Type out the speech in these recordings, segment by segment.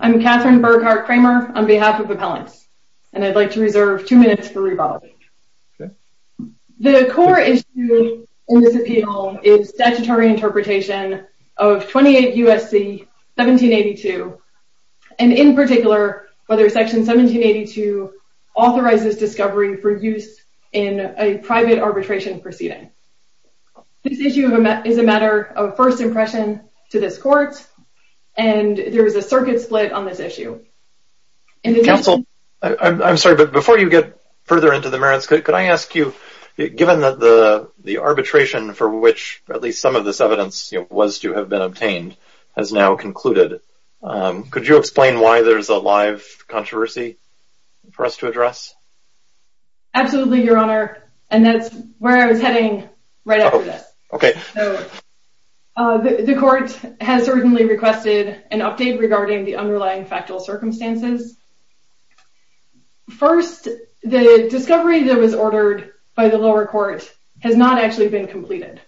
I'm Catherine Burghardt Kramer on behalf of Appellants and I'd like to reserve two minutes for rebuttal. The core issue in this appeal is statutory interpretation of 28 U.S.C. 1782 and in particular whether section 1782 authorizes discovery for use in a private arbitration proceeding. This issue is a matter of first impression to this court and there is a circuit split on this issue. Counsel, I'm sorry but before you get further into the merits could I ask you given that the the arbitration for which at least some of this evidence you know was to have been obtained has now concluded, could you explain why there's a live controversy for us to address? Absolutely your honor and that's where I was heading right after this. So the court has certainly requested an update regarding the underlying factual circumstances. First, the discovery that was ordered by the lower court has not actually been completed.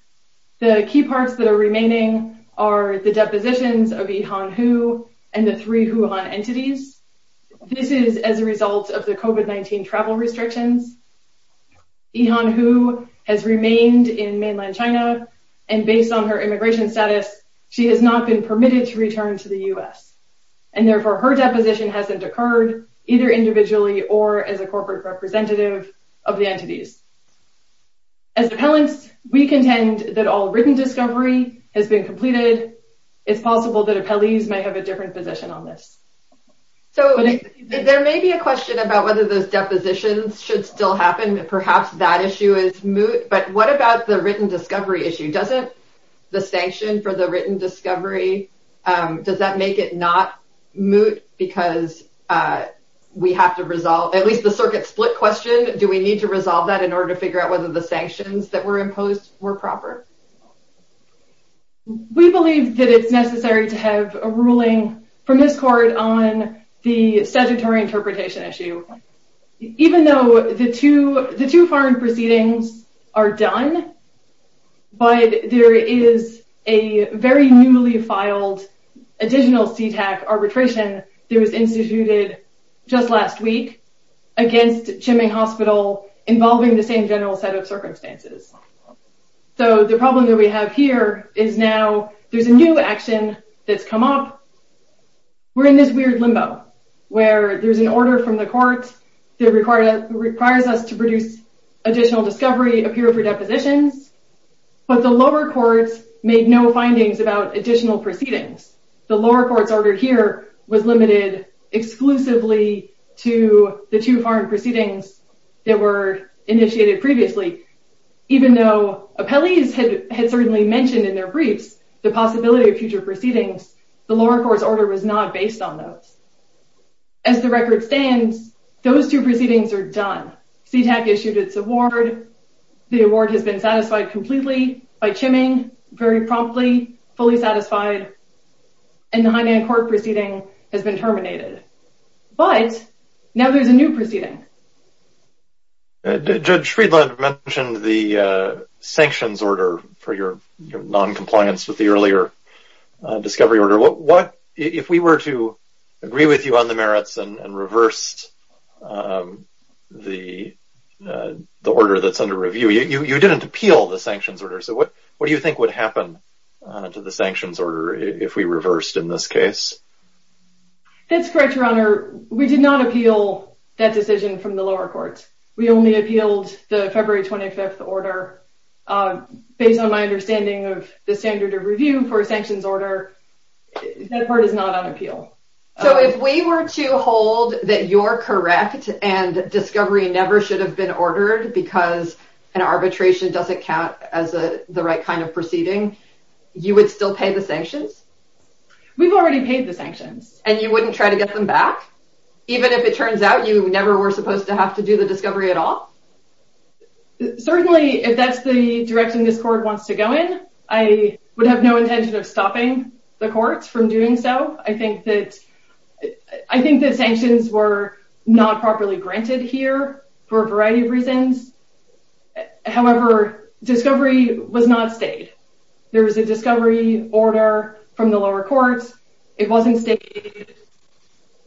The key parts that are remaining are the depositions of Yihan Hu and the three Wuhan entities. This is as a result of the COVID-19 travel restrictions. Yihan Hu has remained in mainland China and based on her immigration status she has not been permitted to return to the U.S. and therefore her deposition hasn't occurred either individually or as a corporate representative of the entities. As appellants we contend that all written discovery has been completed. It's possible that appellees might have a different position on this. So there may be a question about whether those depositions should still happen. Perhaps that issue is moot but what about the written discovery issue? Doesn't the sanction for the written discovery, does that make it not moot because we have to resolve, at least the circuit split question, do we need to resolve that in order to figure out whether the sanctions that were imposed were proper? We believe that it's necessary to have a ruling from this court on the statutory interpretation issue. Even though the two foreign proceedings are done but there is a very newly filed additional CTAC arbitration that was instituted just last week against Tsiming Hospital involving the same general set of circumstances. So the problem that we have here is now there's a new action that's come up. We're in this weird limbo where there's an order from the court that requires us to produce additional discovery, appear for depositions, but the lower courts made no findings about additional proceedings. The lower court's order here was limited exclusively to the two foreign proceedings that were initiated previously. Even though appellees had certainly mentioned in their briefs the possibility of future proceedings, the lower court's order was not based on those. As the record stands, those two proceedings are done. CTAC issued its award, the award has been satisfied completely by Tsiming, very promptly, fully satisfied, and the Hainan court proceeding has been terminated. But now there's a new proceeding. Judge Friedland mentioned the sanctions order for your non-compliance with the earlier discovery order. If we were to agree with you on the merits and reverse the order that's under review, you didn't appeal the sanctions order. So what do you That's correct, Your Honor. We did not appeal that decision from the lower courts. We only appealed the February 25th order. Based on my understanding of the standard of review for a sanctions order, that part is not on appeal. So if we were to hold that you're correct and discovery never should have been ordered because an arbitration doesn't count as the right kind proceeding, you would still pay the sanctions? We've already paid the sanctions. And you wouldn't try to get them back? Even if it turns out you never were supposed to have to do the discovery at all? Certainly, if that's the direction this court wants to go in, I would have no intention of stopping the courts from doing so. I think that sanctions were not properly granted here for a variety of reasons. However, discovery was not stayed. There was a discovery order from the lower courts. It wasn't stayed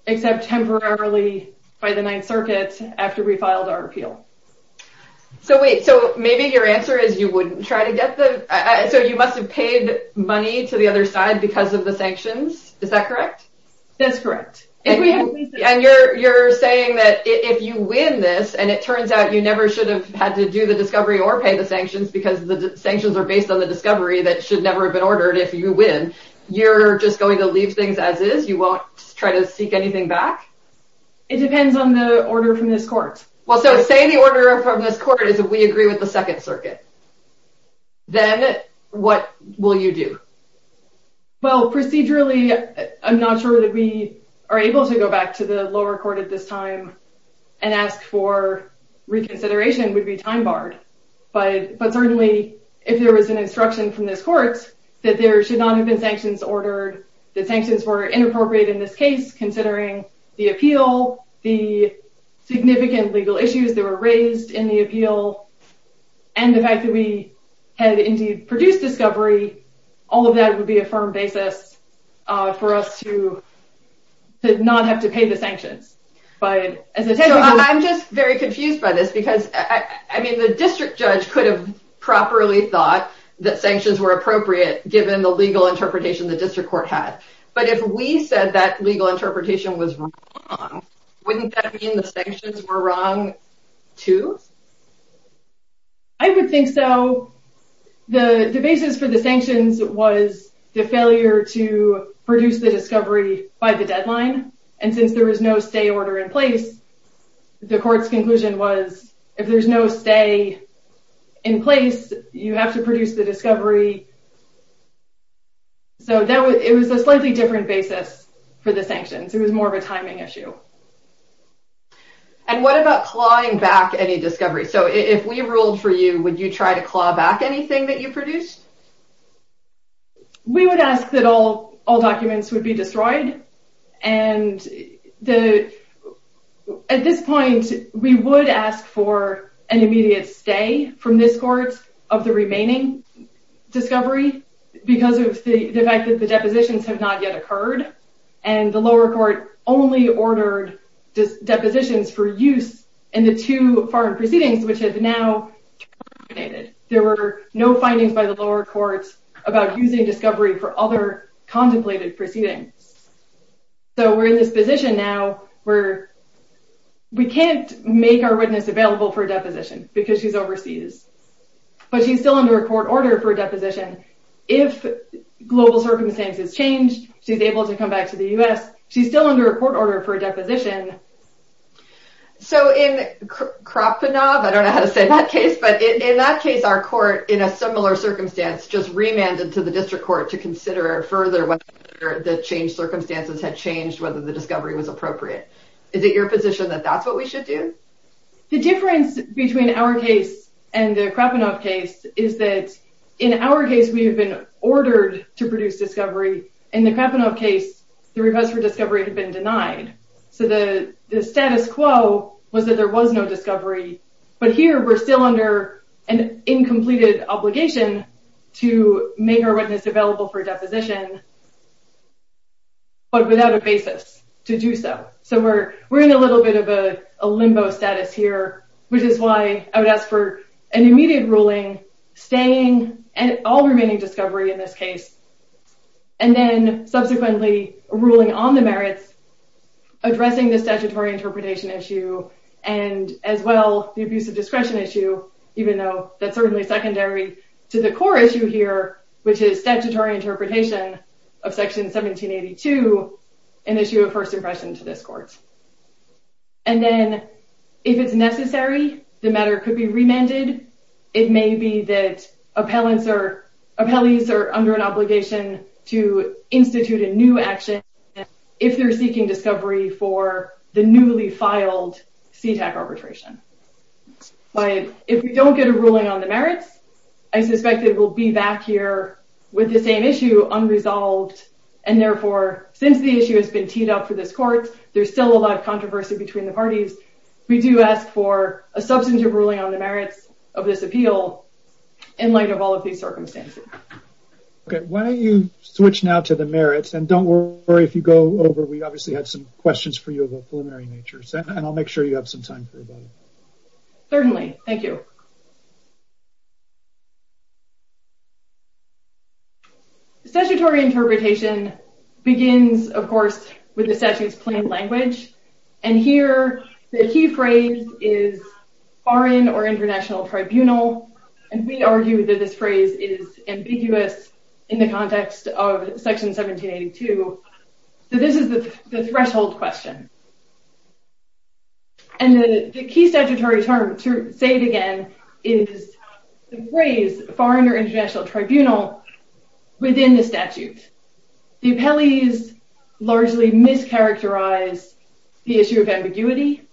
except temporarily by the Ninth Circuit after we filed our appeal. So wait, so maybe your answer is you wouldn't try to get them? So you must have paid money to the other side because of the sanctions? Is that correct? That's correct. And you're saying that if you win this and it turns out you never should have had to do the discovery or pay the sanctions because the sanctions are based on the discovery that should never have been ordered if you win, you're just going to leave things as is? You won't try to seek anything back? It depends on the order from this court. Well, so say the order from this court is that we agree with the Second Circuit. Then what will you do? Well, procedurally, I'm not sure that we are able to go back to the and ask for reconsideration would be time barred. But certainly, if there was an instruction from this court that there should not have been sanctions ordered, that sanctions were inappropriate in this case, considering the appeal, the significant legal issues that were raised in the appeal, and the fact that we had indeed produced discovery, all of that would be a firm basis for us to not have to pay the sanctions. I'm just very confused by this because the district judge could have properly thought that sanctions were appropriate given the legal interpretation the district court had. But if we said that legal interpretation was wrong, wouldn't that mean the sanctions were wrong too? I would think so. The basis for the sanctions was the failure to produce the discovery by the deadline. And since there was no stay order in place, the court's conclusion was if there's no stay in place, you have to produce the discovery. So it was a slightly different basis for the sanctions. It was more of a timing issue. And what about clawing back any discovery? So if we ruled for you, would you try to claw back anything that you produced? We would ask that all documents would be destroyed. And at this point, we would ask for an immediate stay from this court of the remaining discovery because of the fact that the depositions have not yet occurred. And the lower court only ordered depositions for use in the two foreign proceedings, which have now terminated. There were no findings by the lower courts about using discovery for other contemplated proceedings. So we're in this position now where we can't make our witness available for a deposition because she's overseas. But she's still under a court order for a deposition. If global circumstances change, she's able to come back to the US. She's still under a court order for a deposition. So in Krapunov, I don't know how to say that case, but in that case, our court in a similar circumstance just remanded to the district court to consider further whether the changed circumstances had changed, whether the discovery was appropriate. Is it your position that that's what we should do? The difference between our case and the Krapunov case is that in our case, we have been ordered to produce discovery. In the Krapunov case, the request for discovery had been denied. So the status quo was that there was no discovery. But here we're still under an incompleted obligation to make our witness available for a deposition, but without a basis to do so. So we're in a little bit of a limbo status here, which is why I would ask for an immediate ruling, staying and all remaining discovery in this case, and then subsequently ruling on the merits, addressing the statutory interpretation issue, and as well the abuse of discretion issue, even though that's certainly secondary to the core issue here, which is statutory interpretation of section 1782, an issue of first impression to this court. And then if it's necessary, the matter could be remanded. It may be that appellees are under an obligation to institute a new action if they're seeking discovery for the newly filed CTAC arbitration. But if we don't get a ruling on the merits, I suspect it will be back here with the same issue unresolved. And therefore, since the issue has been teed up for this court, there's still a lot of controversy between the parties. We do ask for a substantive ruling on the merits of this appeal in light of all of these circumstances. Okay. Why don't you switch now to the merits, and don't worry if you go over. We obviously have some questions for you of a preliminary nature, and I'll make sure you have some time for that. Certainly. Thank you. Statutory interpretation begins, of course, with the statute's plain language. And here, the key phrase is foreign or international tribunal. And we argue that this phrase is ambiguous in the context of section 1782. So this is the threshold question. And the key statutory term, to say it again, is the phrase foreign or international tribunal within the statute. The appellees largely mischaracterize the issue of ambiguity.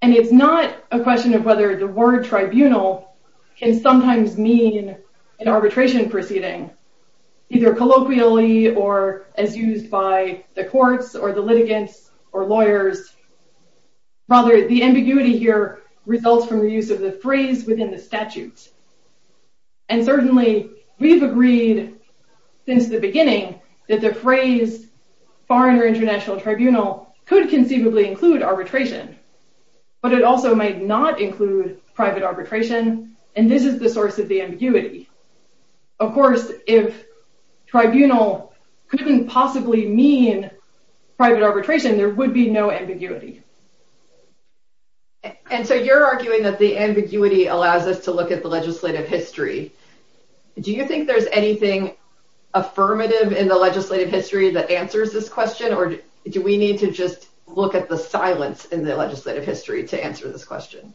And it's not a question of whether the word tribunal can sometimes mean an arbitration proceeding, either colloquially or as used by the courts or the litigants or lawyers. Rather, the ambiguity here results from the use of the phrase within the statute. And certainly, we've agreed since the beginning that the phrase foreign or international tribunal could conceivably include arbitration, but it also might not include private arbitration, and this is the source of the ambiguity. Of course, if tribunal couldn't possibly mean private arbitration, there would be no ambiguity. And so you're arguing that the ambiguity allows us to look at the legislative history. Do you think there's anything affirmative in the legislative history that answers this question, or do we need to just look at the silence in the legislative history to answer this question?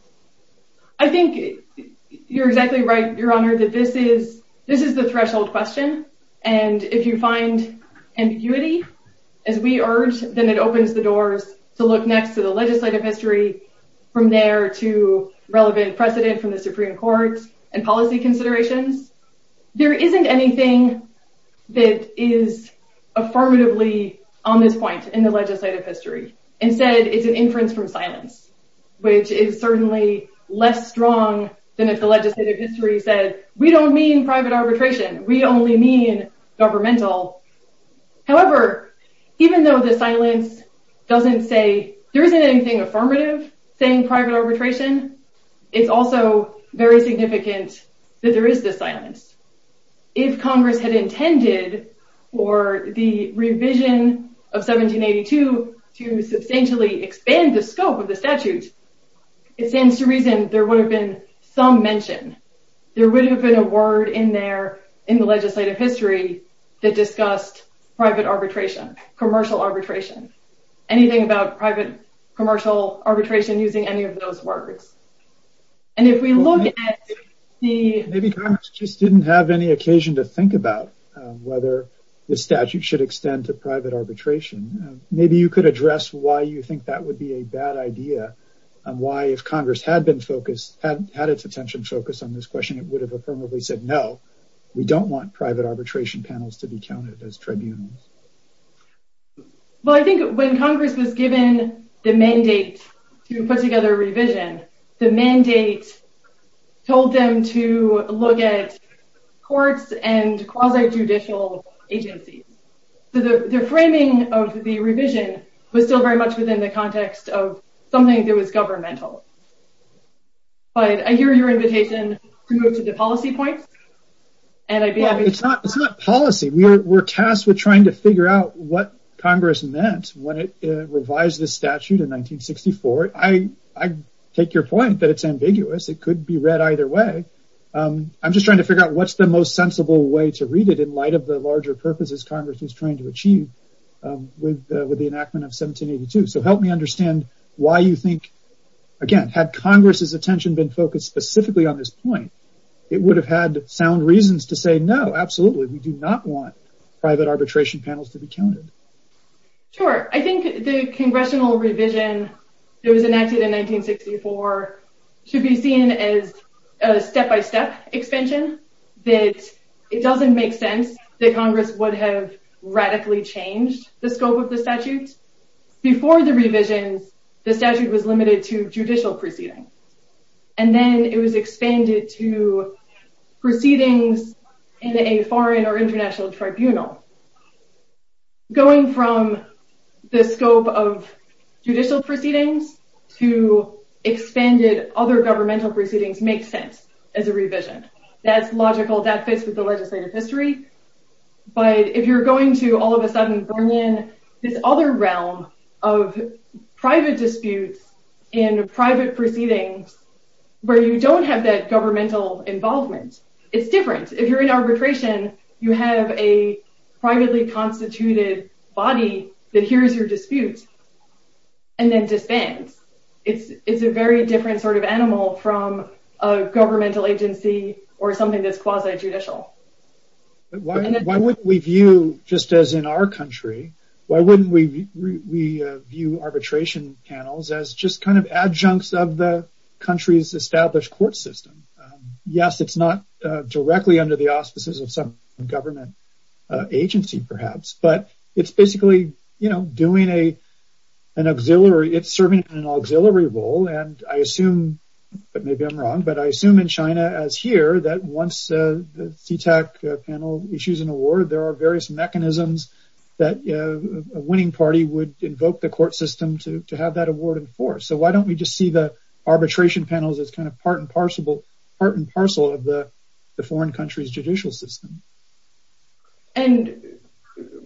I think you're exactly right, Your Honor, that this is the threshold question. And if you find ambiguity, as we urge, then it opens the doors to look next to the legislative history, from there to relevant precedent from the Supreme Court and policy considerations. There isn't anything that is affirmatively on this point in the legislative history. Instead, it's an inference from silence, which is certainly less strong than if the legislative history said, we don't mean private arbitration, we only mean governmental. However, even though the silence doesn't say, there isn't anything affirmative saying private arbitration, it's also very significant that there is this silence. If Congress had intended for the revision of 1782 to substantially expand the scope of the statute, it stands to reason there would have been some mention. There would have been a word in there in the legislative history that discussed private arbitration, commercial arbitration, anything about private commercial arbitration using any of those words. And if we look at the... Maybe Congress just didn't have any occasion to think about whether the statute should extend to private arbitration. Maybe you could address why you think that would be a bad idea and why if Congress had its attention focused on this question, it would have affirmatively said, no, we don't want private arbitration panels to be counted as tribunals. Well, I think when Congress was given the mandate to put together a revision, the mandate told them to look at courts and quasi-judicial agencies. The framing of the context of something that was governmental. But I hear your invitation to go to the policy points. It's not policy. We're tasked with trying to figure out what Congress meant when it revised the statute in 1964. I take your point that it's ambiguous. It could be read either way. I'm just trying to figure out what's the most sensible way to read it in light of the larger purposes Congress is trying to achieve with the enactment of 1782. So help me understand why you think, again, had Congress's attention been focused specifically on this point, it would have had sound reasons to say, no, absolutely, we do not want private arbitration panels to be counted. Sure. I think the congressional revision that was enacted in 1964 should be seen as a step-by-step expansion. It doesn't make sense that Congress would have radically changed the scope of the statute. Before the revision, the statute was limited to judicial proceedings. And then it was expanded to proceedings in a foreign or international other governmental proceedings make sense as a revision. That's logical. That fits with the legislative history. But if you're going to all of a sudden bring in this other realm of private disputes and private proceedings where you don't have that governmental involvement, it's different. If you're in arbitration, you have a privately constituted body that sort of animal from a governmental agency or something that's quasi-judicial. Why wouldn't we view, just as in our country, why wouldn't we view arbitration panels as just kind of adjuncts of the country's established court system? Yes, it's not directly under the auspices of some government agency, perhaps, but it's basically, you know, doing an auxiliary, it's serving an auxiliary role. And I assume, but maybe I'm wrong, but I assume in China as here, that once the CTAC panel issues an award, there are various mechanisms that a winning party would invoke the court system to have that award enforced. So why don't we just see the arbitration panels as kind of part and parcel of the foreign country's judicial system? And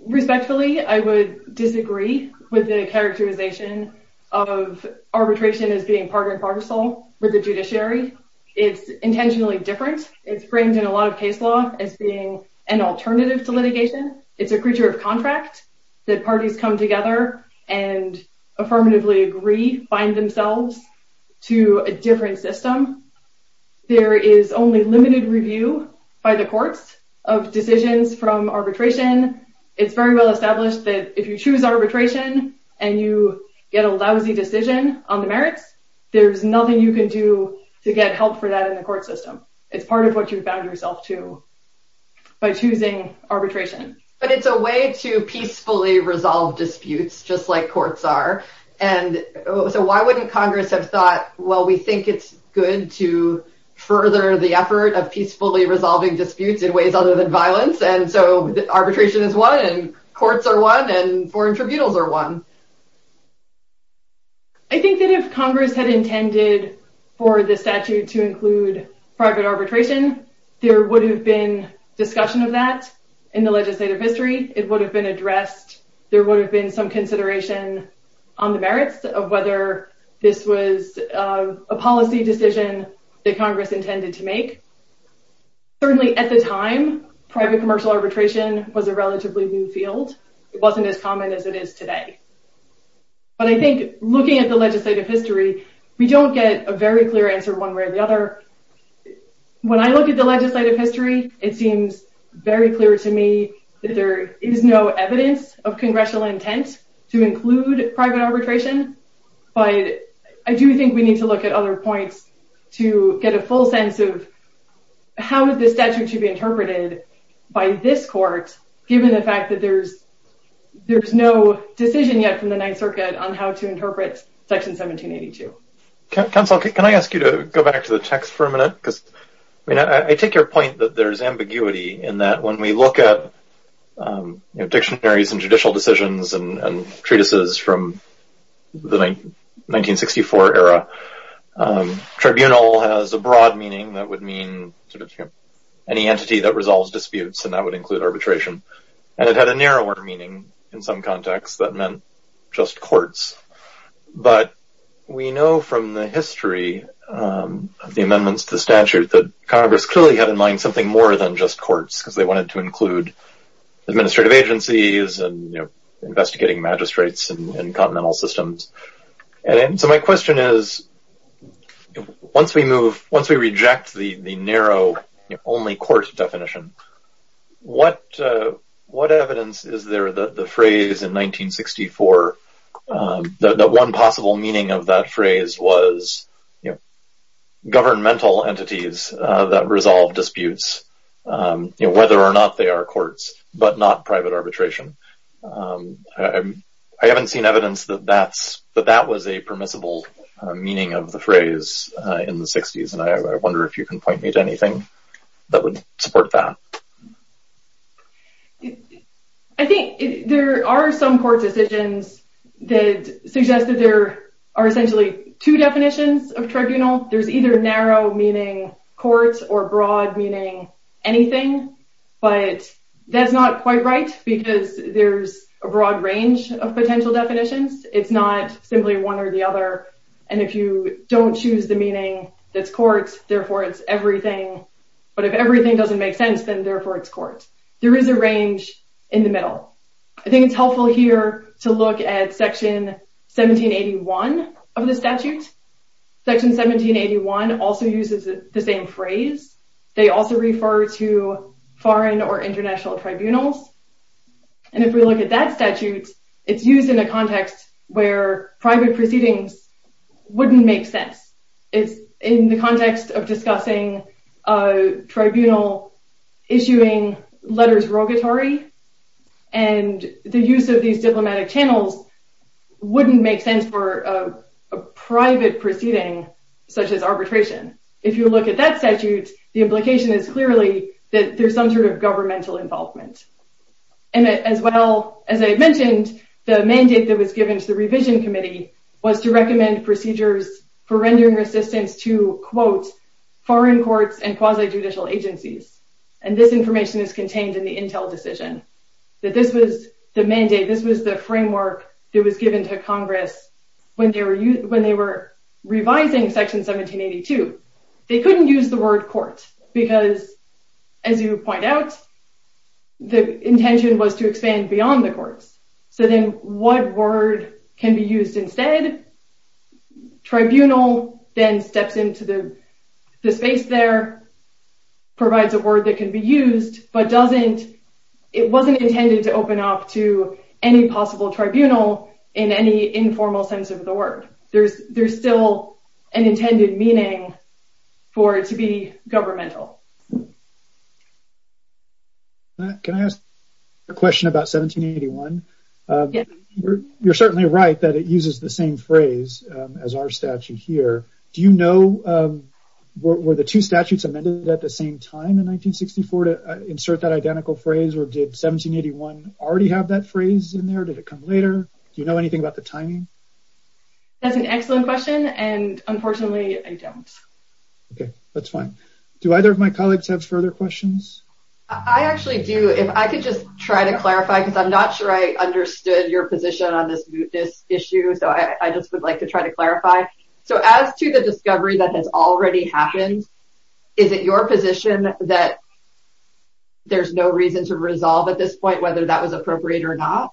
respectfully, I would disagree with the characterization of arbitration as being part and parcel with the judiciary. It's intentionally different. It's framed in a lot of case law as being an alternative to litigation. It's a creature of contract that parties come together and affirmatively agree, find themselves to a different system. There is only limited review by the courts of decisions from arbitration. It's very well established that if you choose arbitration and you get a lousy decision on the merits, there's nothing you can do to get help for that in the court system. It's part of what you've bound yourself to by choosing arbitration. But it's a way to peacefully resolve disputes, just like courts are. And so why wouldn't Congress have thought, well, we think it's good to further the effort of peacefully resolving disputes in ways other than violence. And so arbitration is one, and courts are one, and foreign tribunals are one. I think that if Congress had intended for the statute to include private arbitration, there would have been discussion of that in the legislative history. It would have been addressed. There would have been some consideration on the merits of whether this was a policy decision that Congress intended to make. Certainly, at the time, private commercial arbitration was a relatively new field. It wasn't as common as it is today. But I think looking at the legislative history, we don't get a very clear answer one way or the other. When I look at the congressional intent to include private arbitration, I do think we need to look at other points to get a full sense of how the statute should be interpreted by this court, given the fact that there's no decision yet from the Ninth Circuit on how to interpret Section 1782. Counsel, can I ask you to go back to the text for a minute? Because I mean, I take your point that there's ambiguity in that when we look at dictionaries and judicial decisions and treatises from the 1964 era, tribunal has a broad meaning that would mean any entity that resolves disputes, and that would include arbitration. And it had a narrower meaning in some contexts that meant just courts. But we know from the history of the amendments to the statute that Congress clearly had in mind something more than just courts, because they wanted to include administrative agencies and investigating magistrates and continental systems. And so my question is, once we move, once we reject the narrow only court definition, what evidence is there that the phrase in 1964, that one possible meaning of that phrase was governmental entities that resolve disputes, whether or not they are courts, but not private arbitration? I haven't seen evidence that that was a permissible meaning of the phrase in the 60s, and I wonder if you can point me to anything that would support that. I think there are some court decisions that suggest that there are essentially two definitions of tribunal. There's either narrow, meaning courts, or broad, meaning anything. But that's not quite right, because there's a broad range of potential definitions. It's not simply one or the other. And if you don't choose the meaning that's courts, therefore it's everything. But if everything doesn't make sense, then therefore it's courts. There is a range in the middle. I think it's helpful here to look at section 1781 of the statute. Section 1781 also uses the same phrase. They also refer to foreign or international tribunals. And if we look at that statute, it's used in a context where private proceedings wouldn't make sense. It's in the context of discussing a tribunal issuing letters rogatory, and the use of these diplomatic channels wouldn't make sense for a private proceeding such as arbitration. If you look at that statute, the implication is clearly that there's some sort of governmental involvement. And as well, as I mentioned, the mandate that was given to the revision committee was to recommend procedures for rendering resistance to, quote, foreign courts and quasi-judicial agencies. And this information is contained in the Intel decision, that this was the mandate, this was the framework that was given to Congress when they were revising section 1782. They couldn't use the word court, because as you point out, the intention was to expand beyond the word court instead. Tribunal then steps into the space there, provides a word that can be used, but it wasn't intended to open up to any possible tribunal in any informal sense of the word. There's still an intended meaning for it to be governmental. Matt, can I ask a question about 1781? You're certainly right that it uses the same phrase as our statute here. Do you know, were the two statutes amended at the same time in 1964 to insert that identical phrase, or did 1781 already have that phrase in there? Did it come later? Do you know anything about the timing? That's an excellent question, and unfortunately, I don't. Okay, that's fine. Do either of my colleagues have further questions? I actually do. If I could just try to clarify, because I'm not sure I understood your position on this issue, so I just would like to try to clarify. So as to the discovery that has already happened, is it your position that there's no reason to resolve at this point whether that was appropriate or not?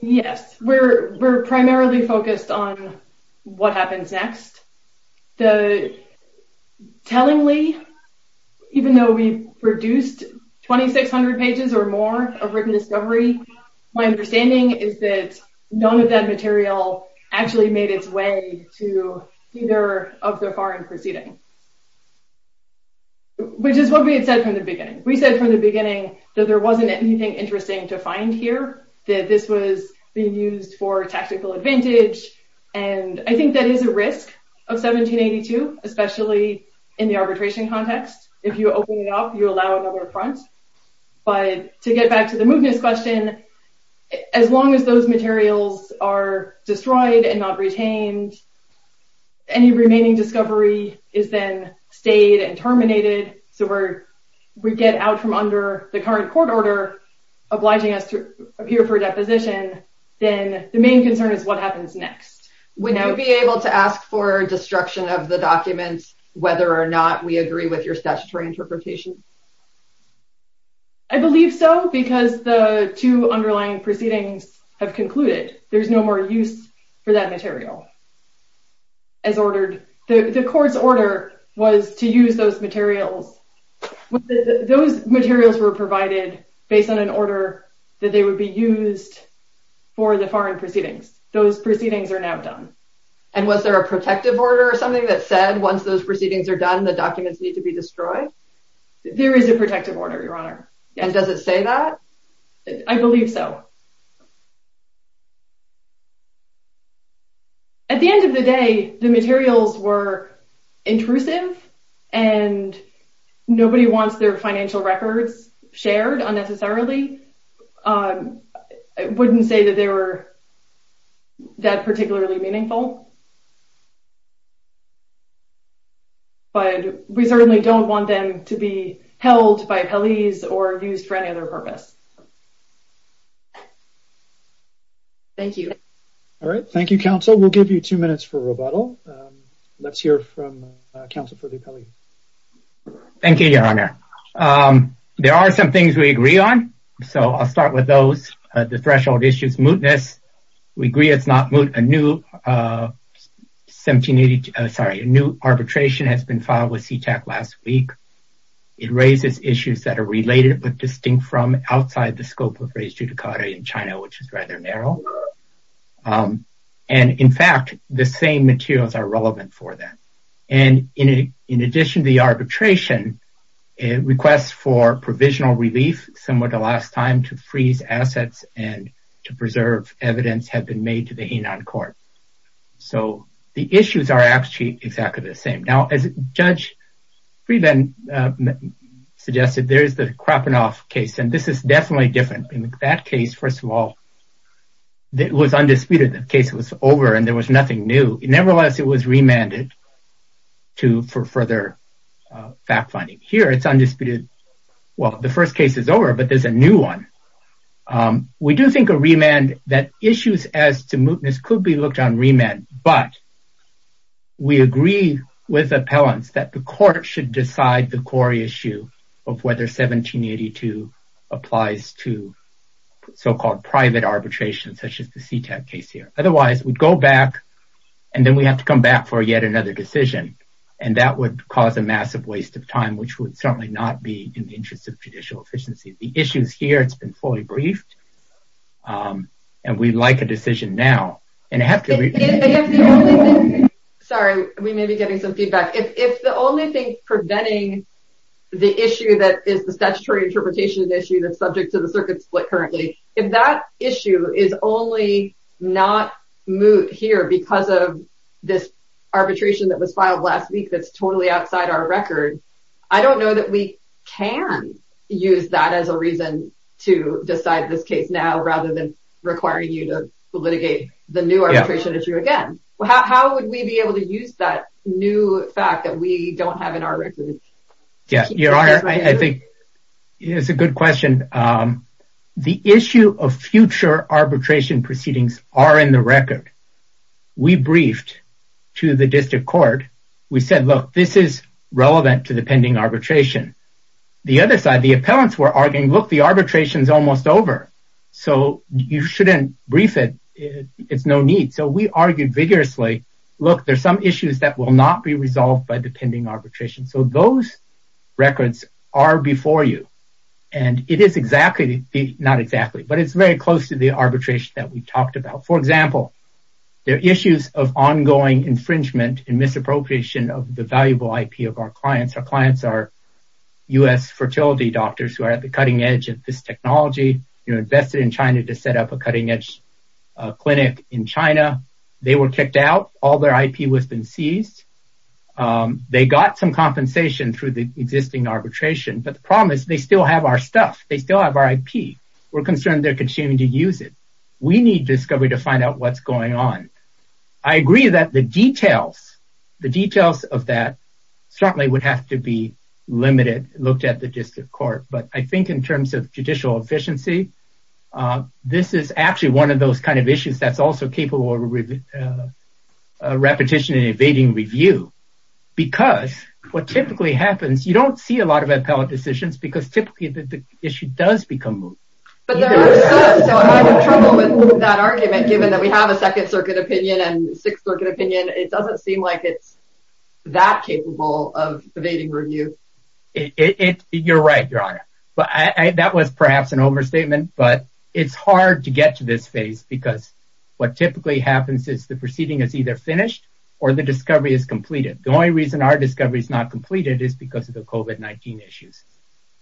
Yes, we're primarily focused on what happens next. Tellingly, even though we've produced 2,600 pages or more of written discovery, my understanding is that none of that material actually made its way to either of the foreign proceedings. Which is what we had said from the beginning. We said from the beginning that there wasn't anything interesting to find here, that this was being used for tactical advantage, and I think that is a risk of 1782, especially in the arbitration context. If you open it up, you allow another affront. But to get back to the mootness question, as long as those materials are destroyed and not retained, any remaining discovery is then stayed and terminated, so we get out from under the current court order obliging us to appear for a deposition, then the main concern is what happens next. Would you be able to ask for destruction of the documents whether or not we agree with your statutory interpretation? I believe so, because the two underlying proceedings have concluded there's no more use for that material. The court's order was to use those materials. Those materials were provided based on an order that they would be used for the foreign proceedings. Those proceedings are now done. And was there a protective order or something that said once those proceedings are done, the documents need to be destroyed? There is a protective order, Your Honor. And does it say that? I believe so. At the end of the day, the materials were intrusive, and nobody wants their financial records shared unnecessarily. I wouldn't say that they were that particularly meaningful. But we certainly don't want them to be held by appellees or used for any other purpose. Thank you. All right. Thank you, counsel. We'll give you two minutes for rebuttal. Let's hear from counsel for the appellee. Thank you, Your Honor. There are some things we agree on, so I'll start with those. The threshold issues, mootness, we agree it's not moot. A new arbitration has been filed with CTAC last week. It raises issues that are related but distinct from outside the scope of res judicata in China, which is rather narrow. And in fact, the same materials are relevant for that. And in addition to the arbitration, a request for provisional relief similar to last time to freeze assets and to preserve evidence have been made to the Hainan court. So the issues are actually exactly the same. Now, as Judge Friedman suggested, there is the Krapanov case. And this is definitely different. In that case, first of all, it was undisputed. The case was over, and there was nothing new. Nevertheless, it was remanded for further fact-finding. Here, it's undisputed. Well, the first case is over, but there's a new one. We do think a remand that issues as to mootness could be looked on remand. But we agree with appellants that the court should decide the core issue of whether 1782 applies to so-called private arbitration, such as the CTAC case here. Otherwise, we'd go back, and then we have to come back for yet another decision. And that would cause a judicial deficiency. The issues here, it's been fully briefed. And we'd like a decision now. Sorry, we may be getting some feedback. If the only thing preventing the issue that is the statutory interpretation of the issue that's subject to the circuit split currently, if that issue is only not moot here because of this arbitration that was filed last week that's outside our record, I don't know that we can use that as a reason to decide this case now, rather than requiring you to litigate the new arbitration issue again. How would we be able to use that new fact that we don't have in our record? Yes, Your Honor, I think it's a good question. The issue of future arbitration proceedings are in the record. We briefed to the district court. We said, look, this is relevant to the pending arbitration. The other side, the appellants were arguing, look, the arbitration is almost over. So, you shouldn't brief it. It's no need. So, we argued vigorously, look, there's some issues that will not be resolved by the pending arbitration. So, those records are before you. And it is exactly, not exactly, but it's very close to the arbitration that we talked about. For example, there are issues of ongoing infringement and misappropriation of the valuable IP of our clients. Our clients are U.S. fertility doctors who are at the cutting edge of this technology, invested in China to set up a cutting edge clinic in China. They were kicked out. All their IP was been seized. They got some compensation through the existing arbitration. But the problem is, they still have our stuff. They still have our IP. We're concerned they're continuing to use it. We need discovery to find out what's going on. I agree that the details, the details of that certainly would have to be limited, looked at the district court. But I think in terms of judicial efficiency, this is actually one of those kind of issues that's also capable of repetition and evading review. Because what typically happens, you don't see a lot of appellate decisions because the issue does become moot. But there are some that are in trouble with that argument, given that we have a second circuit opinion and sixth circuit opinion. It doesn't seem like it's that capable of evading review. You're right, Your Honor. That was perhaps an overstatement, but it's hard to get to this phase because what typically happens is the proceeding is either finished or the discovery is completed. The only reason our discovery is not completed is because of the COVID-19 issues.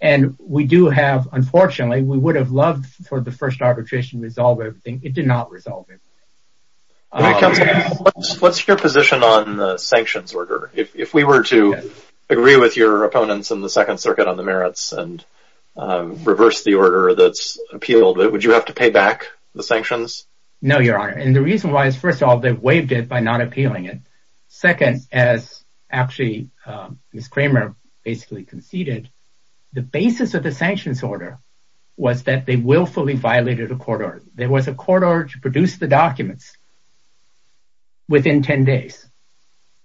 And we do have, unfortunately, we would have loved for the first arbitration to resolve everything. It did not resolve everything. What's your position on the sanctions order? If we were to agree with your opponents in the second circuit on the merits and reverse the order that's appealed, would you have to pay back the sanctions? No, Your Honor. And the reason why is, first of all, they've waived it by not appealing it. Second, as actually Ms. basically conceded, the basis of the sanctions order was that they willfully violated a court order. There was a court order to produce the documents within 10 days.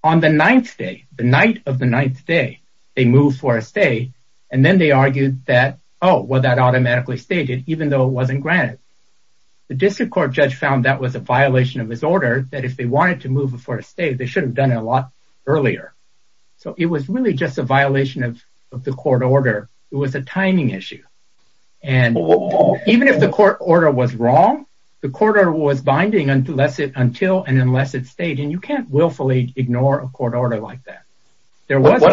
On the ninth day, the night of the ninth day, they moved for a stay. And then they argued that, oh, well, that automatically stated, even though it wasn't granted. The district court judge found that was a violation of his order, that if they wanted to move for a stay, they should have done it a lot earlier. So, it was really just a violation of the court order. It was a timing issue. And even if the court order was wrong, the court order was binding until and unless it stayed. And you can't willfully ignore a court order like that. There was a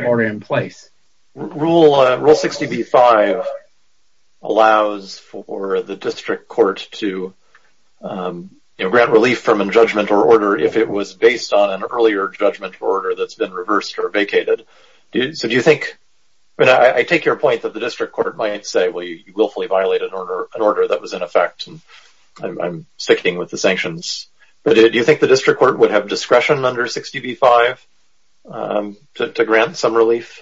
court order in place. Rule 60b-5 allows for the district court to grant relief from a judgment or order if it was based on an earlier judgment or order that's been reversed or vacated. So, do you think, I take your point that the district court might say, well, you willfully violated an order that was in effect. And I'm sticking with the sanctions. But do you think the district court would have discretion under 60b-5 to grant some relief?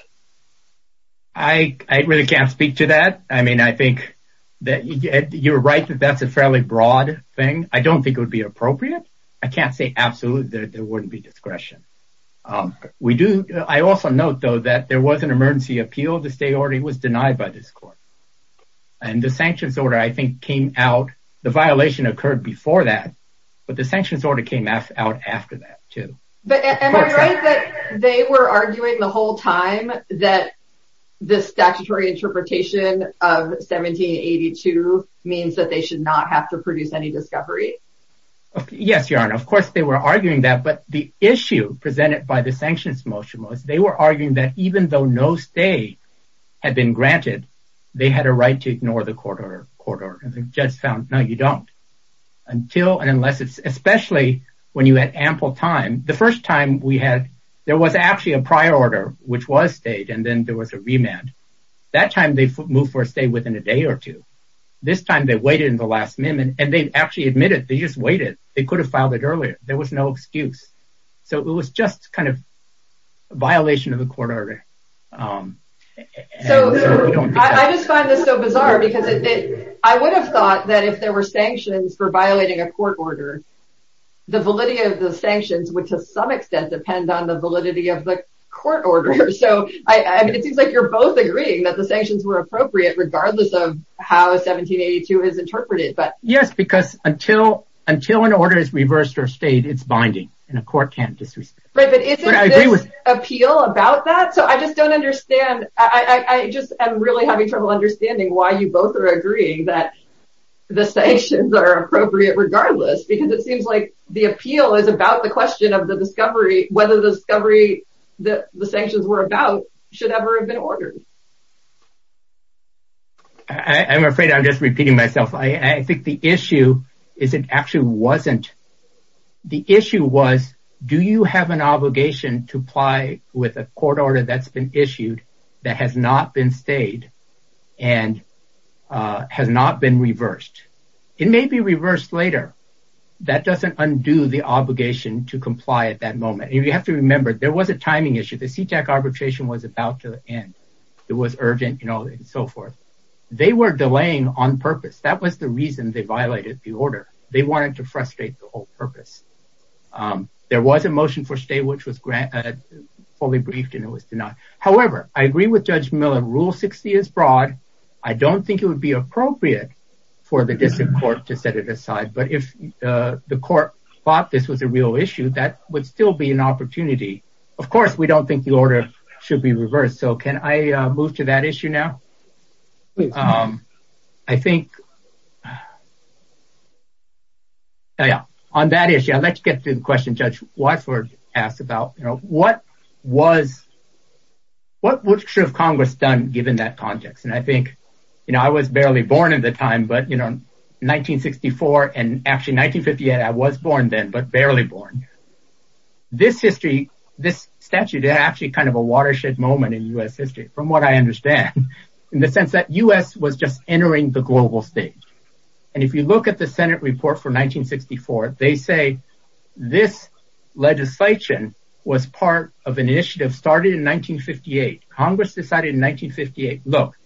I really can't speak to that. I mean, I think that you're right that that's a fairly broad thing. I don't think it would be appropriate. I can't say absolutely that there wouldn't be discretion. I also note, though, that there was an emergency appeal. The stay order was denied by this court. And the sanctions order, I think, came out. The violation occurred before that, but the sanctions order came out after that, too. But am I right that they were arguing the whole time that the statutory interpretation of 1782 means that they should not have to produce any discovery? Yes, Your Honor. Of course, they were arguing that. But the issue presented by the sanctions motion was they were arguing that even though no stay had been granted, they had a right to ignore the court order. And they just found, no, you don't. Until and unless it's, especially when you had ample time. The first time we had, there was actually a prior order, which was stayed, and then there was a remand. That time they moved for a stay within a day or two. This time they waited in the last minute, and they actually admitted they just waited. They could have filed it earlier. There was no excuse. So it was just kind of a violation of the court order. So I just find this so bizarre because I would have thought that if there were sanctions for violating a court order, the validity of the sanctions would, to some extent, depend on the appropriate, regardless of how 1782 is interpreted. Yes, because until an order is reversed or stayed, it's binding, and a court can't disrespect it. Right, but isn't this appeal about that? So I just don't understand. I just am really having trouble understanding why you both are agreeing that the sanctions are appropriate regardless, because it seems like the appeal is about the question of the discovery, whether the discovery that the sanctions were about should ever have been ordered. I'm afraid I'm just repeating myself. I think the issue is it actually wasn't. The issue was, do you have an obligation to apply with a court order that's been issued that has not been stayed and has not been reversed? It may be reversed later. That doesn't undo the obligation to comply at that moment. You have to remember there was a timing issue. The CTAC arbitration was about to end. It was urgent, and so forth. They were delaying on purpose. That was the reason they violated the order. They wanted to frustrate the whole purpose. There was a motion for stay, which was fully briefed, and it was denied. However, I agree with Judge Miller. Rule 60 is broad. I don't think it would be appropriate for the district court to set it aside, but if the court thought this was a real issue, that would still be an opportunity. Of course, we don't think the order should be reversed. Can I move to that issue now? I think on that issue, I'd like to get to the question Judge Wadsworth asked about what should have Congress done given that context? I was barely born at the time, but 1964 and actually 1958, I was born then, but barely born. This statute is actually a watershed moment in U.S. history, from what I understand, in the sense that U.S. was just entering the global stage. If you look at the Senate report for 1964, they say this legislation was part of an initiative started in 1958. Congress decided in 1958, look,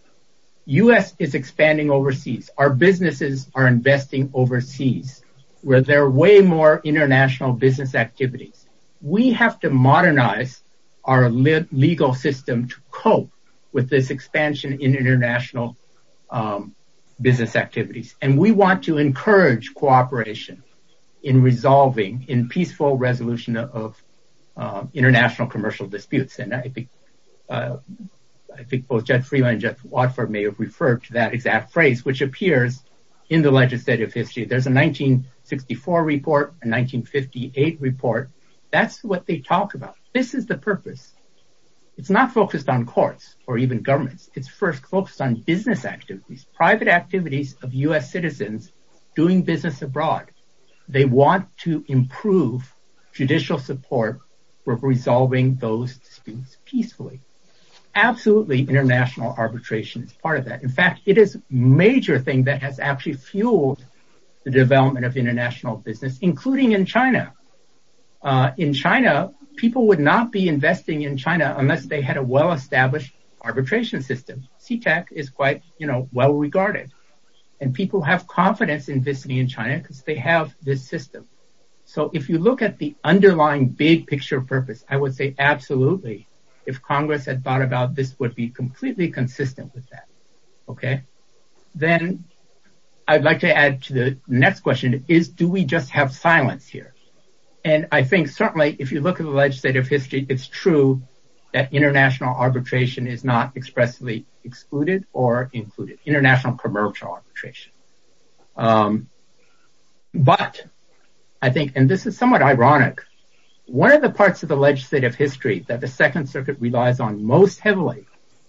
U.S. is expanding overseas. Our businesses are way more international business activities. We have to modernize our legal system to cope with this expansion in international business activities, and we want to encourage cooperation in resolving in peaceful resolution of international commercial disputes. I think both Judge Freeland and Judge Wadsworth may have referred to that exact phrase, which appears in the legislative history. There's a 1964 report, a 1958 report. That's what they talk about. This is the purpose. It's not focused on courts or even governments. It's first focused on business activities, private activities of U.S. citizens doing business abroad. They want to improve judicial support for resolving those disputes peacefully. Absolutely, international arbitration is part of that. In fact, it is a major thing that has actually fueled the development of international business, including in China. In China, people would not be investing in China unless they had a well-established arbitration system. CTEC is quite well-regarded. People have confidence in investing in China because they have this system. If you look at the underlying big picture purpose, I would say absolutely. If Congress had thought about this, it would be completely consistent with that. Then I'd like to add to the next question. Do we just have silence here? Certainly, if you look at the legislative history, it's true that international arbitration is not expressly excluded or included, international commercial arbitration. This is somewhat ironic. One of the parts of the legislative history that the Second Circuit relies on most heavily,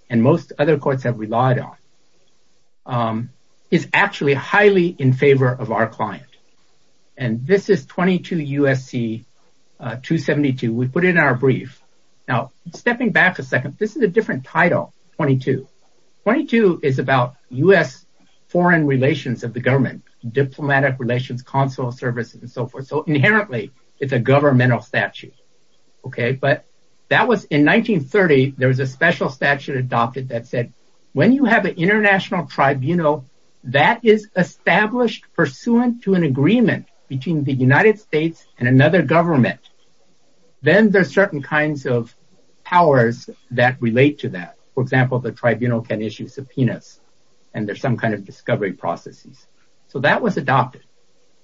and most other courts have relied on, is actually highly in favor of our client. This is 22 U.S.C. 272. We put it in our brief. Stepping back a second, this is a different title, 22. 22 is about U.S. foreign relations of the government, diplomatic relations, consular services, and so forth. Inherently, it's a governmental statute. In 1930, there was a special statute adopted that said, when you have an international tribunal that is established pursuant to an agreement between the powers that relate to that, for example, the tribunal can issue subpoenas, and there's some kind of discovery processes. That was adopted.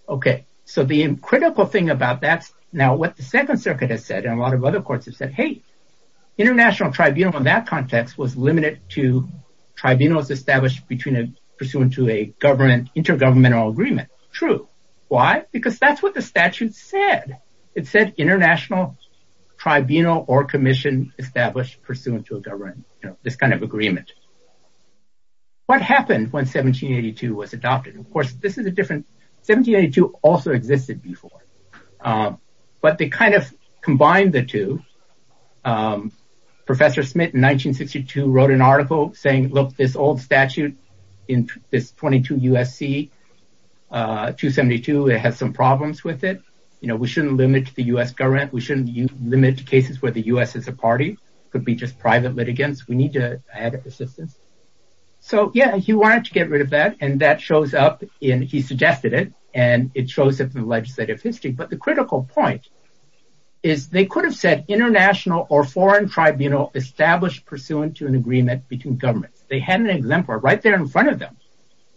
The critical thing about that, now what the Second Circuit has said, and a lot of other courts have said, hey, international tribunal in that context was limited to tribunals established pursuant to an intergovernmental agreement. True. Why? Because that's what the statute said. It said international tribunal or commission established pursuant to a government, this kind of agreement. What happened when 1782 was adopted? Of course, 1782 also existed before, but they kind of combined the two. Professor Smith in 1962 wrote an article saying, look, this old statute in this 22 U.S.C. 272 has some problems with it. We shouldn't limit the U.S. government. We shouldn't limit cases where the U.S. is a party. It could be just private litigants. We need to add assistance. So yeah, he wanted to get rid of that, and that shows up in, he suggested it, and it shows up in legislative history. But the critical point is they could have said international or foreign tribunal established pursuant to an agreement between governments. They had an exemplar right there in front of them,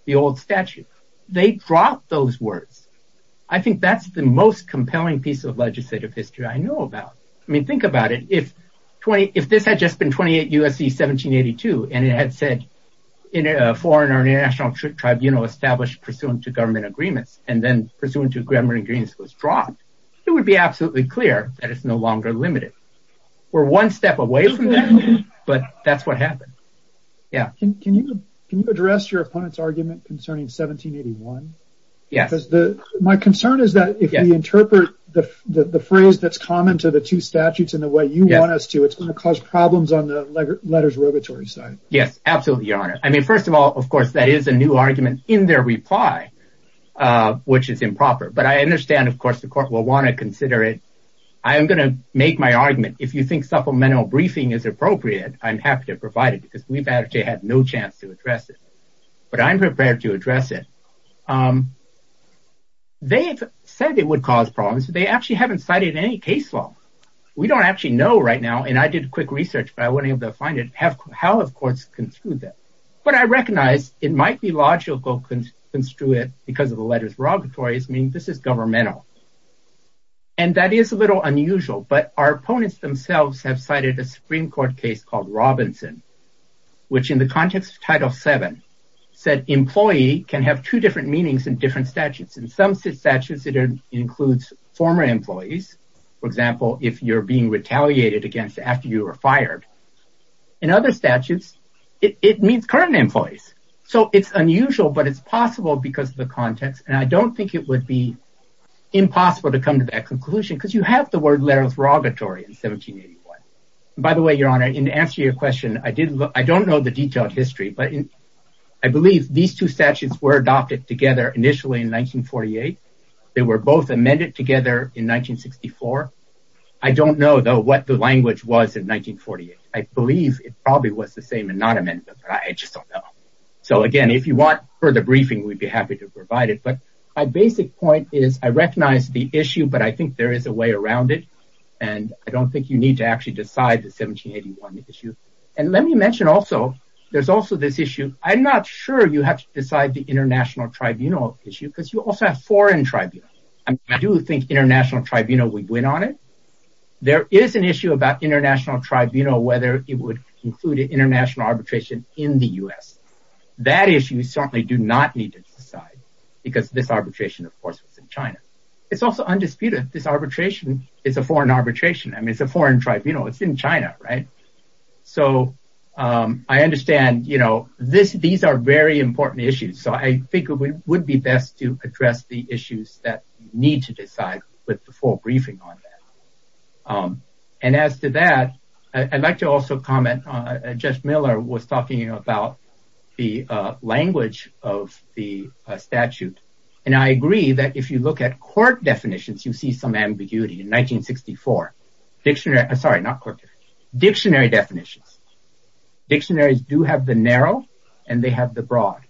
the old statute. They dropped those words. I think that's the most compelling piece of legislative history I know about. I mean, think about it. If this had just been 28 U.S.C. 1782, and it had said foreign or international tribunal established pursuant to government agreements, and then pursuant to government agreements was dropped, it would be absolutely clear that it's no longer limited. We're one step away from that, but that's what happened. Yeah. Can you address your opponent's argument concerning 1781? Yes. My concern is that if we interpret the phrase that's common to the two statutes in the way you want us to, it's going to cause problems on the letter's regulatory side. Yes, absolutely, your honor. I mean, first of all, of course, that is a new argument in their reply, which is improper. But I understand, of course, the court will want to consider it. I am going to make my argument. If you think supplemental briefing is appropriate, I'm happy to provide it because we've actually had no chance to address it. But I'm prepared to address it. They've said it would cause problems, but they actually haven't cited any case law. We don't actually know right now, and I did quick research, but I wouldn't have been able to find it. How have courts construed that? But I recognize it might be logical to construe it because of the letter's regulatory, meaning this is governmental. And that is a little unusual, but our opponents themselves have cited a Supreme Court case called Robinson, which in the context of Title VII said employee can have two different meanings in different statutes. In some statutes, it includes former employees. For example, if you're being retaliated against after you were fired. In other statutes, it means current employees. So it's unusual, but it's possible because of the context. And I don't think it would be impossible to come to that conclusion because you have the word letter's regulatory in 1781. By the way, your answer to your question, I don't know the detailed history, but I believe these two statutes were adopted together initially in 1948. They were both amended together in 1964. I don't know, though, what the language was in 1948. I believe it probably was the same and not amended, but I just don't know. So again, if you want further briefing, we'd be happy to provide it. But my basic point is I recognize the issue, but I think there is a way around it. And I don't think you need to actually decide the 1781 issue. And let me mention also, there's also this issue. I'm not sure you have to decide the international tribunal issue because you also have foreign tribunal. I do think international tribunal would win on it. There is an issue about international tribunal, whether it would include international arbitration in the U.S. That issue certainly do not need to decide because this arbitration, of course, was in China. It's also undisputed. This is in China, right? So I understand, you know, these are very important issues. So I think it would be best to address the issues that need to decide with the full briefing on that. And as to that, I'd like to also comment, Judge Miller was talking about the language of the statute. And I agree that if you look at court definitions, you see some ambiguity. In 1964, dictionary, sorry, not court, dictionary definitions, dictionaries do have the narrow, and they have the broad.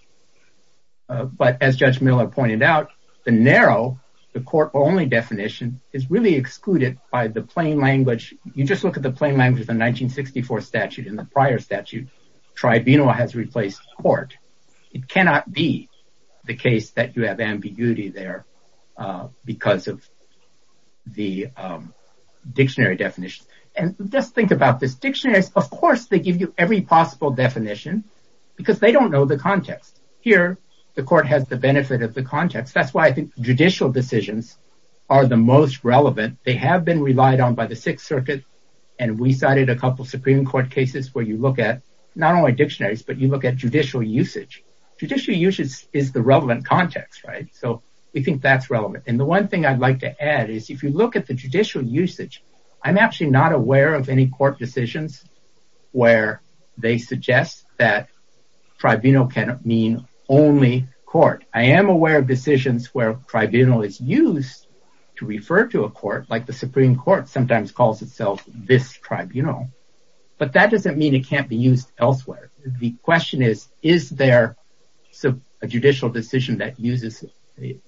But as Judge Miller pointed out, the narrow, the court only definition is really excluded by the plain language. You just look at the plain language of the 1964 statute in the prior statute, tribunal has replaced court. It cannot be the case that you have ambiguity there because of the dictionary definition. And just think about this, dictionaries, of course, they give you every possible definition, because they don't know the context. Here, the court has the benefit of the context. That's why I think judicial decisions are the most relevant. They have been relied on by the Sixth Circuit. And we cited a couple of Supreme Court cases where you look at not only dictionaries, but you look at judicial usage. Judicial usage is the relevant context, right? So we think that's relevant. And the one thing I'd like to add is if you look at the judicial usage, I'm actually not aware of any court decisions where they suggest that tribunal cannot mean only court. I am aware of decisions where tribunal is used to refer to a court, like the Supreme Court sometimes calls itself this tribunal. But that judicial decision that uses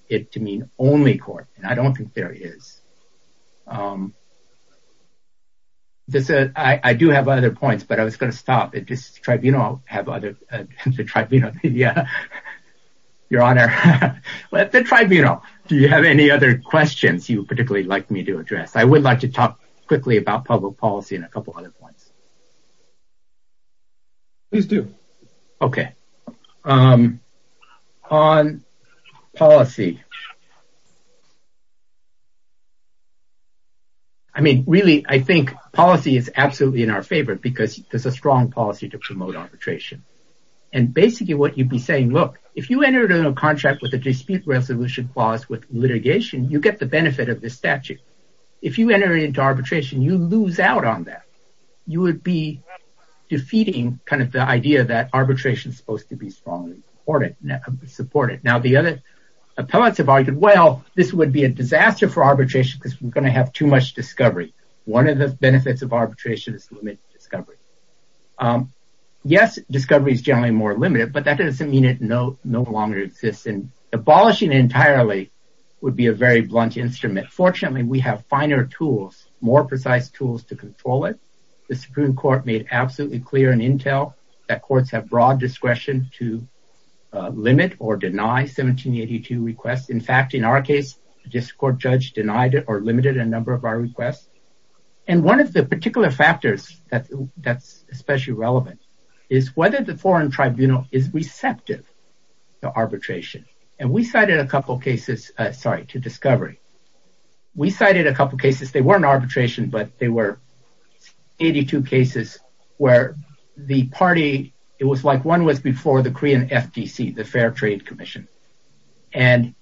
it to mean only court, and I don't think there is. I do have other points, but I was going to stop at this tribunal. I'll have other tribunal. Yeah. Your Honor, let the tribunal. Do you have any other questions you particularly like me to address? I would like to talk quickly about public policy and a couple of other points. Please do. Okay. On policy. I mean, really, I think policy is absolutely in our favor because there's a strong policy to promote arbitration. And basically what you'd be saying, look, if you entered a contract with a dispute resolution clause with litigation, you get the benefit of this statute. If you enter into arbitration, you lose out on that. You would be defeating kind of the idea that arbitration is supposed to be strongly supported. Now, the other appellants have argued, well, this would be a disaster for arbitration because we're going to have too much discovery. One of the benefits of arbitration is limited discovery. Yes, discovery is generally more limited, but that doesn't mean it no longer exists. And abolishing entirely would be a very instrument. Fortunately, we have finer tools, more precise tools to control it. The Supreme Court made absolutely clear in Intel that courts have broad discretion to limit or deny 1782 requests. In fact, in our case, just court judge denied it or limited a number of our requests. And one of the particular factors that that's especially relevant is whether the foreign We cited a couple of cases, they weren't arbitration, but they were 82 cases where the party, it was like one was before the Korean FTC, the Fair Trade Commission. And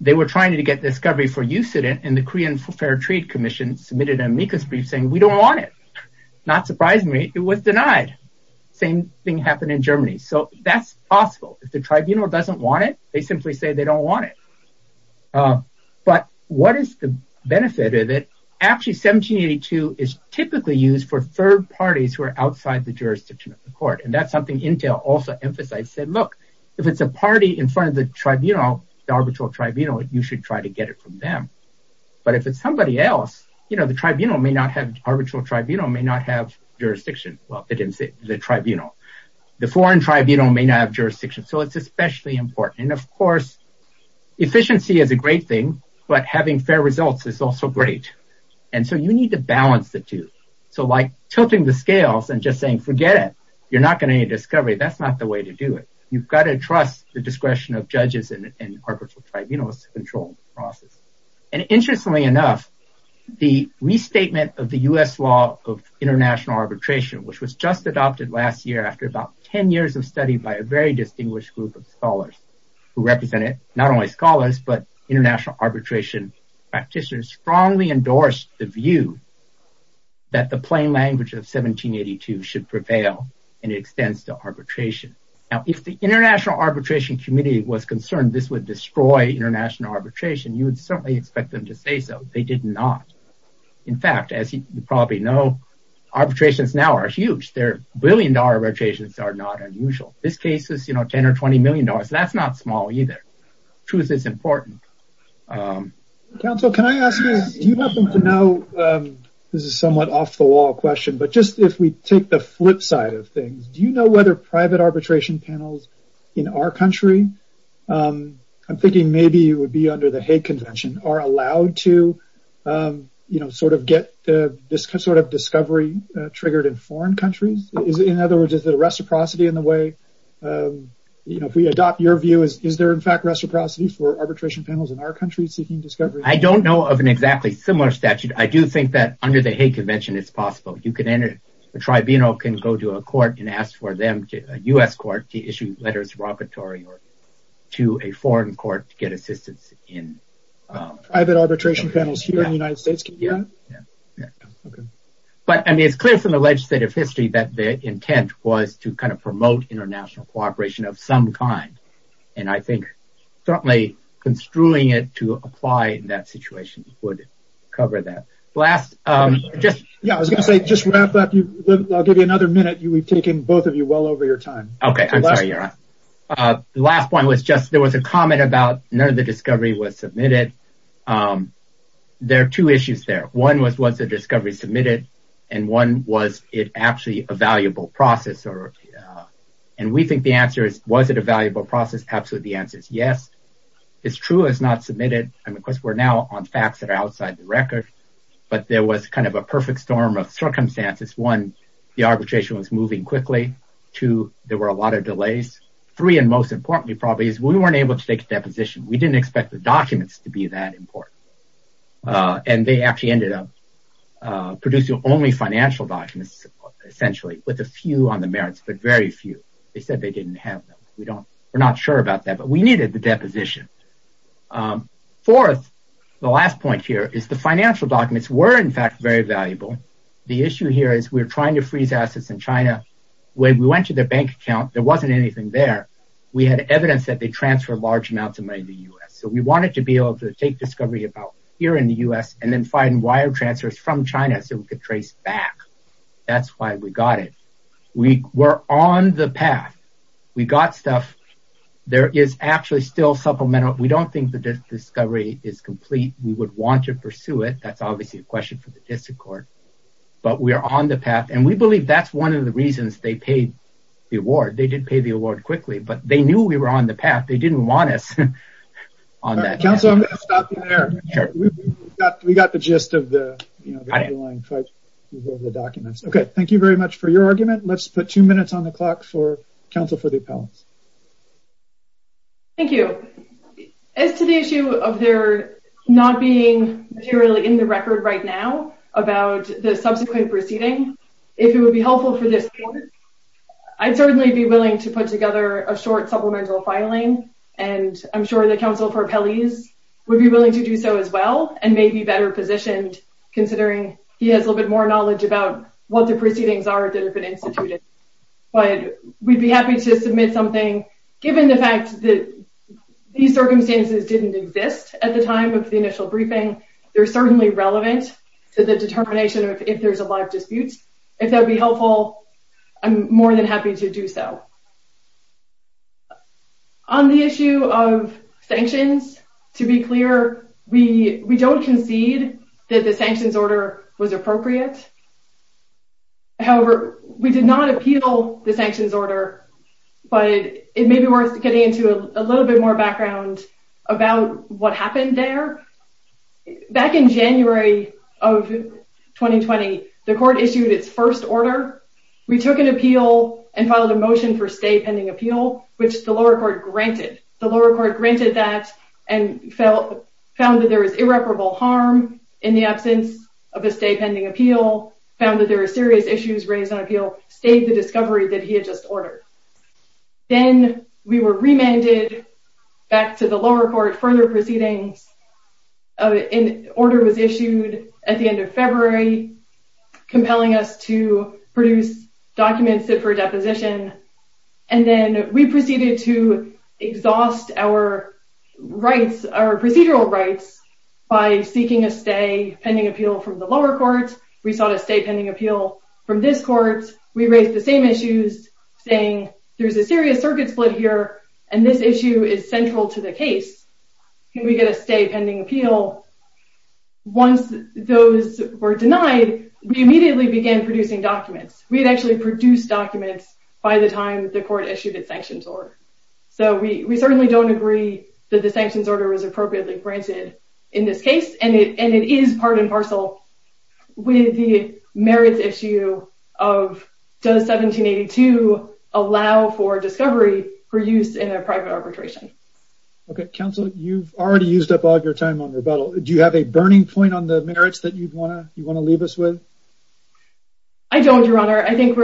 they were trying to get discovery for use in it. And the Korean Fair Trade Commission submitted an amicus brief saying we don't want it. Not surprisingly, it was denied. Same thing happened in Germany. So that's possible if the tribunal doesn't want it, they simply say they don't want it. But what is the benefit of it? Actually, 1782 is typically used for third parties who are outside the jurisdiction of the court. And that's something Intel also emphasized said, look, if it's a party in front of the tribunal, the arbitral tribunal, you should try to get it from them. But if it's somebody else, you know, the tribunal may not have arbitral tribunal may not have jurisdiction. Well, they didn't say the tribunal, the foreign tribunal may not have efficiency is a great thing. But having fair results is also great. And so you need to balance the two. So like tilting the scales and just saying, forget it, you're not going to need discovery. That's not the way to do it. You've got to trust the discretion of judges and arbitral tribunals to control the process. And interestingly enough, the restatement of the US law of international arbitration, which was just adopted last year after about 10 years of study by a very but international arbitration practitioners strongly endorsed the view that the plain language of 1782 should prevail and extends to arbitration. Now, if the international arbitration committee was concerned, this would destroy international arbitration, you would certainly expect them to say so they did not. In fact, as you probably know, arbitrations now are huge, they're brilliant arbitrations are not unusual. This case is, you know, 10 or $20 million. That's not small either. Truth is important. Council, can I ask you, do you happen to know, this is somewhat off the wall question, but just if we take the flip side of things, do you know whether private arbitration panels in our country? I'm thinking maybe it would be under the Hague Convention are allowed to, you know, sort of get this sort of discovery triggered in foreign countries? Is it in other words, is it a reciprocity in the way? You know, if we adopt your view, is there in fact reciprocity for arbitration panels in our country seeking discovery? I don't know of an exactly similar statute. I do think that under the Hague Convention, it's possible you can enter a tribunal can go to a court and ask for them to a US court to issue letters of repertory or to a foreign court to get assistance in private arbitration panels here in the United States. But I mean, it's clear from the legislative history that the intent was to kind of promote international cooperation of some kind. And I think certainly construing it to apply in that situation would cover that last. Yeah, I was gonna say just wrap up. I'll give you another minute. You we've taken both of you well over your time. Okay. Last one was just there was a comment about none of the discovery was submitted. There are two issues there. One was was the discovery submitted? And one was it actually a valuable process? Or? And we think the answer is, was it a valuable process? Absolutely. The answer is yes. It's true is not submitted. And of course, we're now on facts that are outside the record. But there was kind of a perfect storm of circumstances. One, the arbitration was moving quickly to there were a lot of delays. Three, and most importantly, probably is we weren't able to deposition, we didn't expect the documents to be that important. And they actually ended up producing only financial documents, essentially, with a few on the merits, but very few, they said they didn't have them. We don't, we're not sure about that. But we needed the deposition. Fourth, the last point here is the financial documents were in fact, very valuable. The issue here is we're trying to freeze assets in China. When we went to their bank account, there wasn't anything there. We had evidence that they transfer large amounts of money in the US. So we wanted to be able to take discovery about here in the US and then find wire transfers from China. So we could trace back. That's why we got it. We were on the path. We got stuff. There is actually still supplemental, we don't think the discovery is complete, we would want to pursue it. That's obviously a question for the district court. But we are on the path. And we believe that's one of the reasons they paid the award. They did pay the award quickly, but they knew we were on the path. They didn't want us on that council. We got the gist of the documents. Okay, thank you very much for your argument. Let's put two minutes on the clock for counsel for the appellants. Thank you. As to the issue of their not being materially in the record right now about the court, I'd certainly be willing to put together a short supplemental filing. And I'm sure the counsel for appellees would be willing to do so as well and maybe better positioned, considering he has a little bit more knowledge about what the proceedings are that have been instituted. But we'd be happy to submit something, given the fact that these circumstances didn't exist at the time of the initial briefing, they're certainly relevant to the determination of if there's a lot of disputes. If that would be helpful, I'm more than happy to do so. On the issue of sanctions, to be clear, we don't concede that the sanctions order was appropriate. However, we did not appeal the sanctions order. But it may be worth getting into a little bit background about what happened there. Back in January of 2020, the court issued its first order. We took an appeal and filed a motion for stay pending appeal, which the lower court granted. The lower court granted that and found that there was irreparable harm in the absence of a stay pending appeal, found that there are serious issues raised on appeal, stayed the discovery that he had just ordered. Then we were remanded back to the lower court, further proceedings, an order was issued at the end of February, compelling us to produce documents that for deposition. And then we proceeded to exhaust our rights, our procedural rights, by seeking a stay pending appeal from the lower court, we sought a stay pending appeal from this court, we raised the same issues, saying, there's a serious circuit split here, and this issue is central to the case, can we get a stay pending appeal? Once those were denied, we immediately began producing documents. We had actually produced documents by the time the court issued its sanctions order. So we certainly don't agree that the sanctions order was appropriately granted in this case. And it is part and parcel with the merits issue of does 1782 allow for discovery for use in a private arbitration. Okay, counsel, you've already used up all your time on rebuttal. Do you have a burning point on the merits that you want to leave us with? I don't, your honor. I think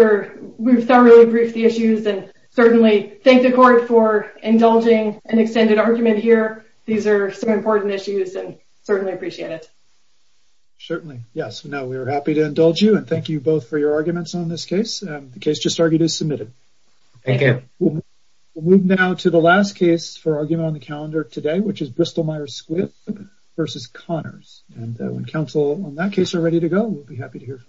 we've thoroughly briefed the issues and certainly thank the court for indulging an extended argument here. These are some important issues and certainly appreciate it. Certainly, yes. Now we are happy to indulge you and thank you both for your arguments on this case. The case just argued is submitted. Thank you. We'll move now to the last case for argument on the calendar today, which is Bristol-Myers-Squibb versus Connors. And when counsel on that case are ready to go, we'll be happy to hear from you.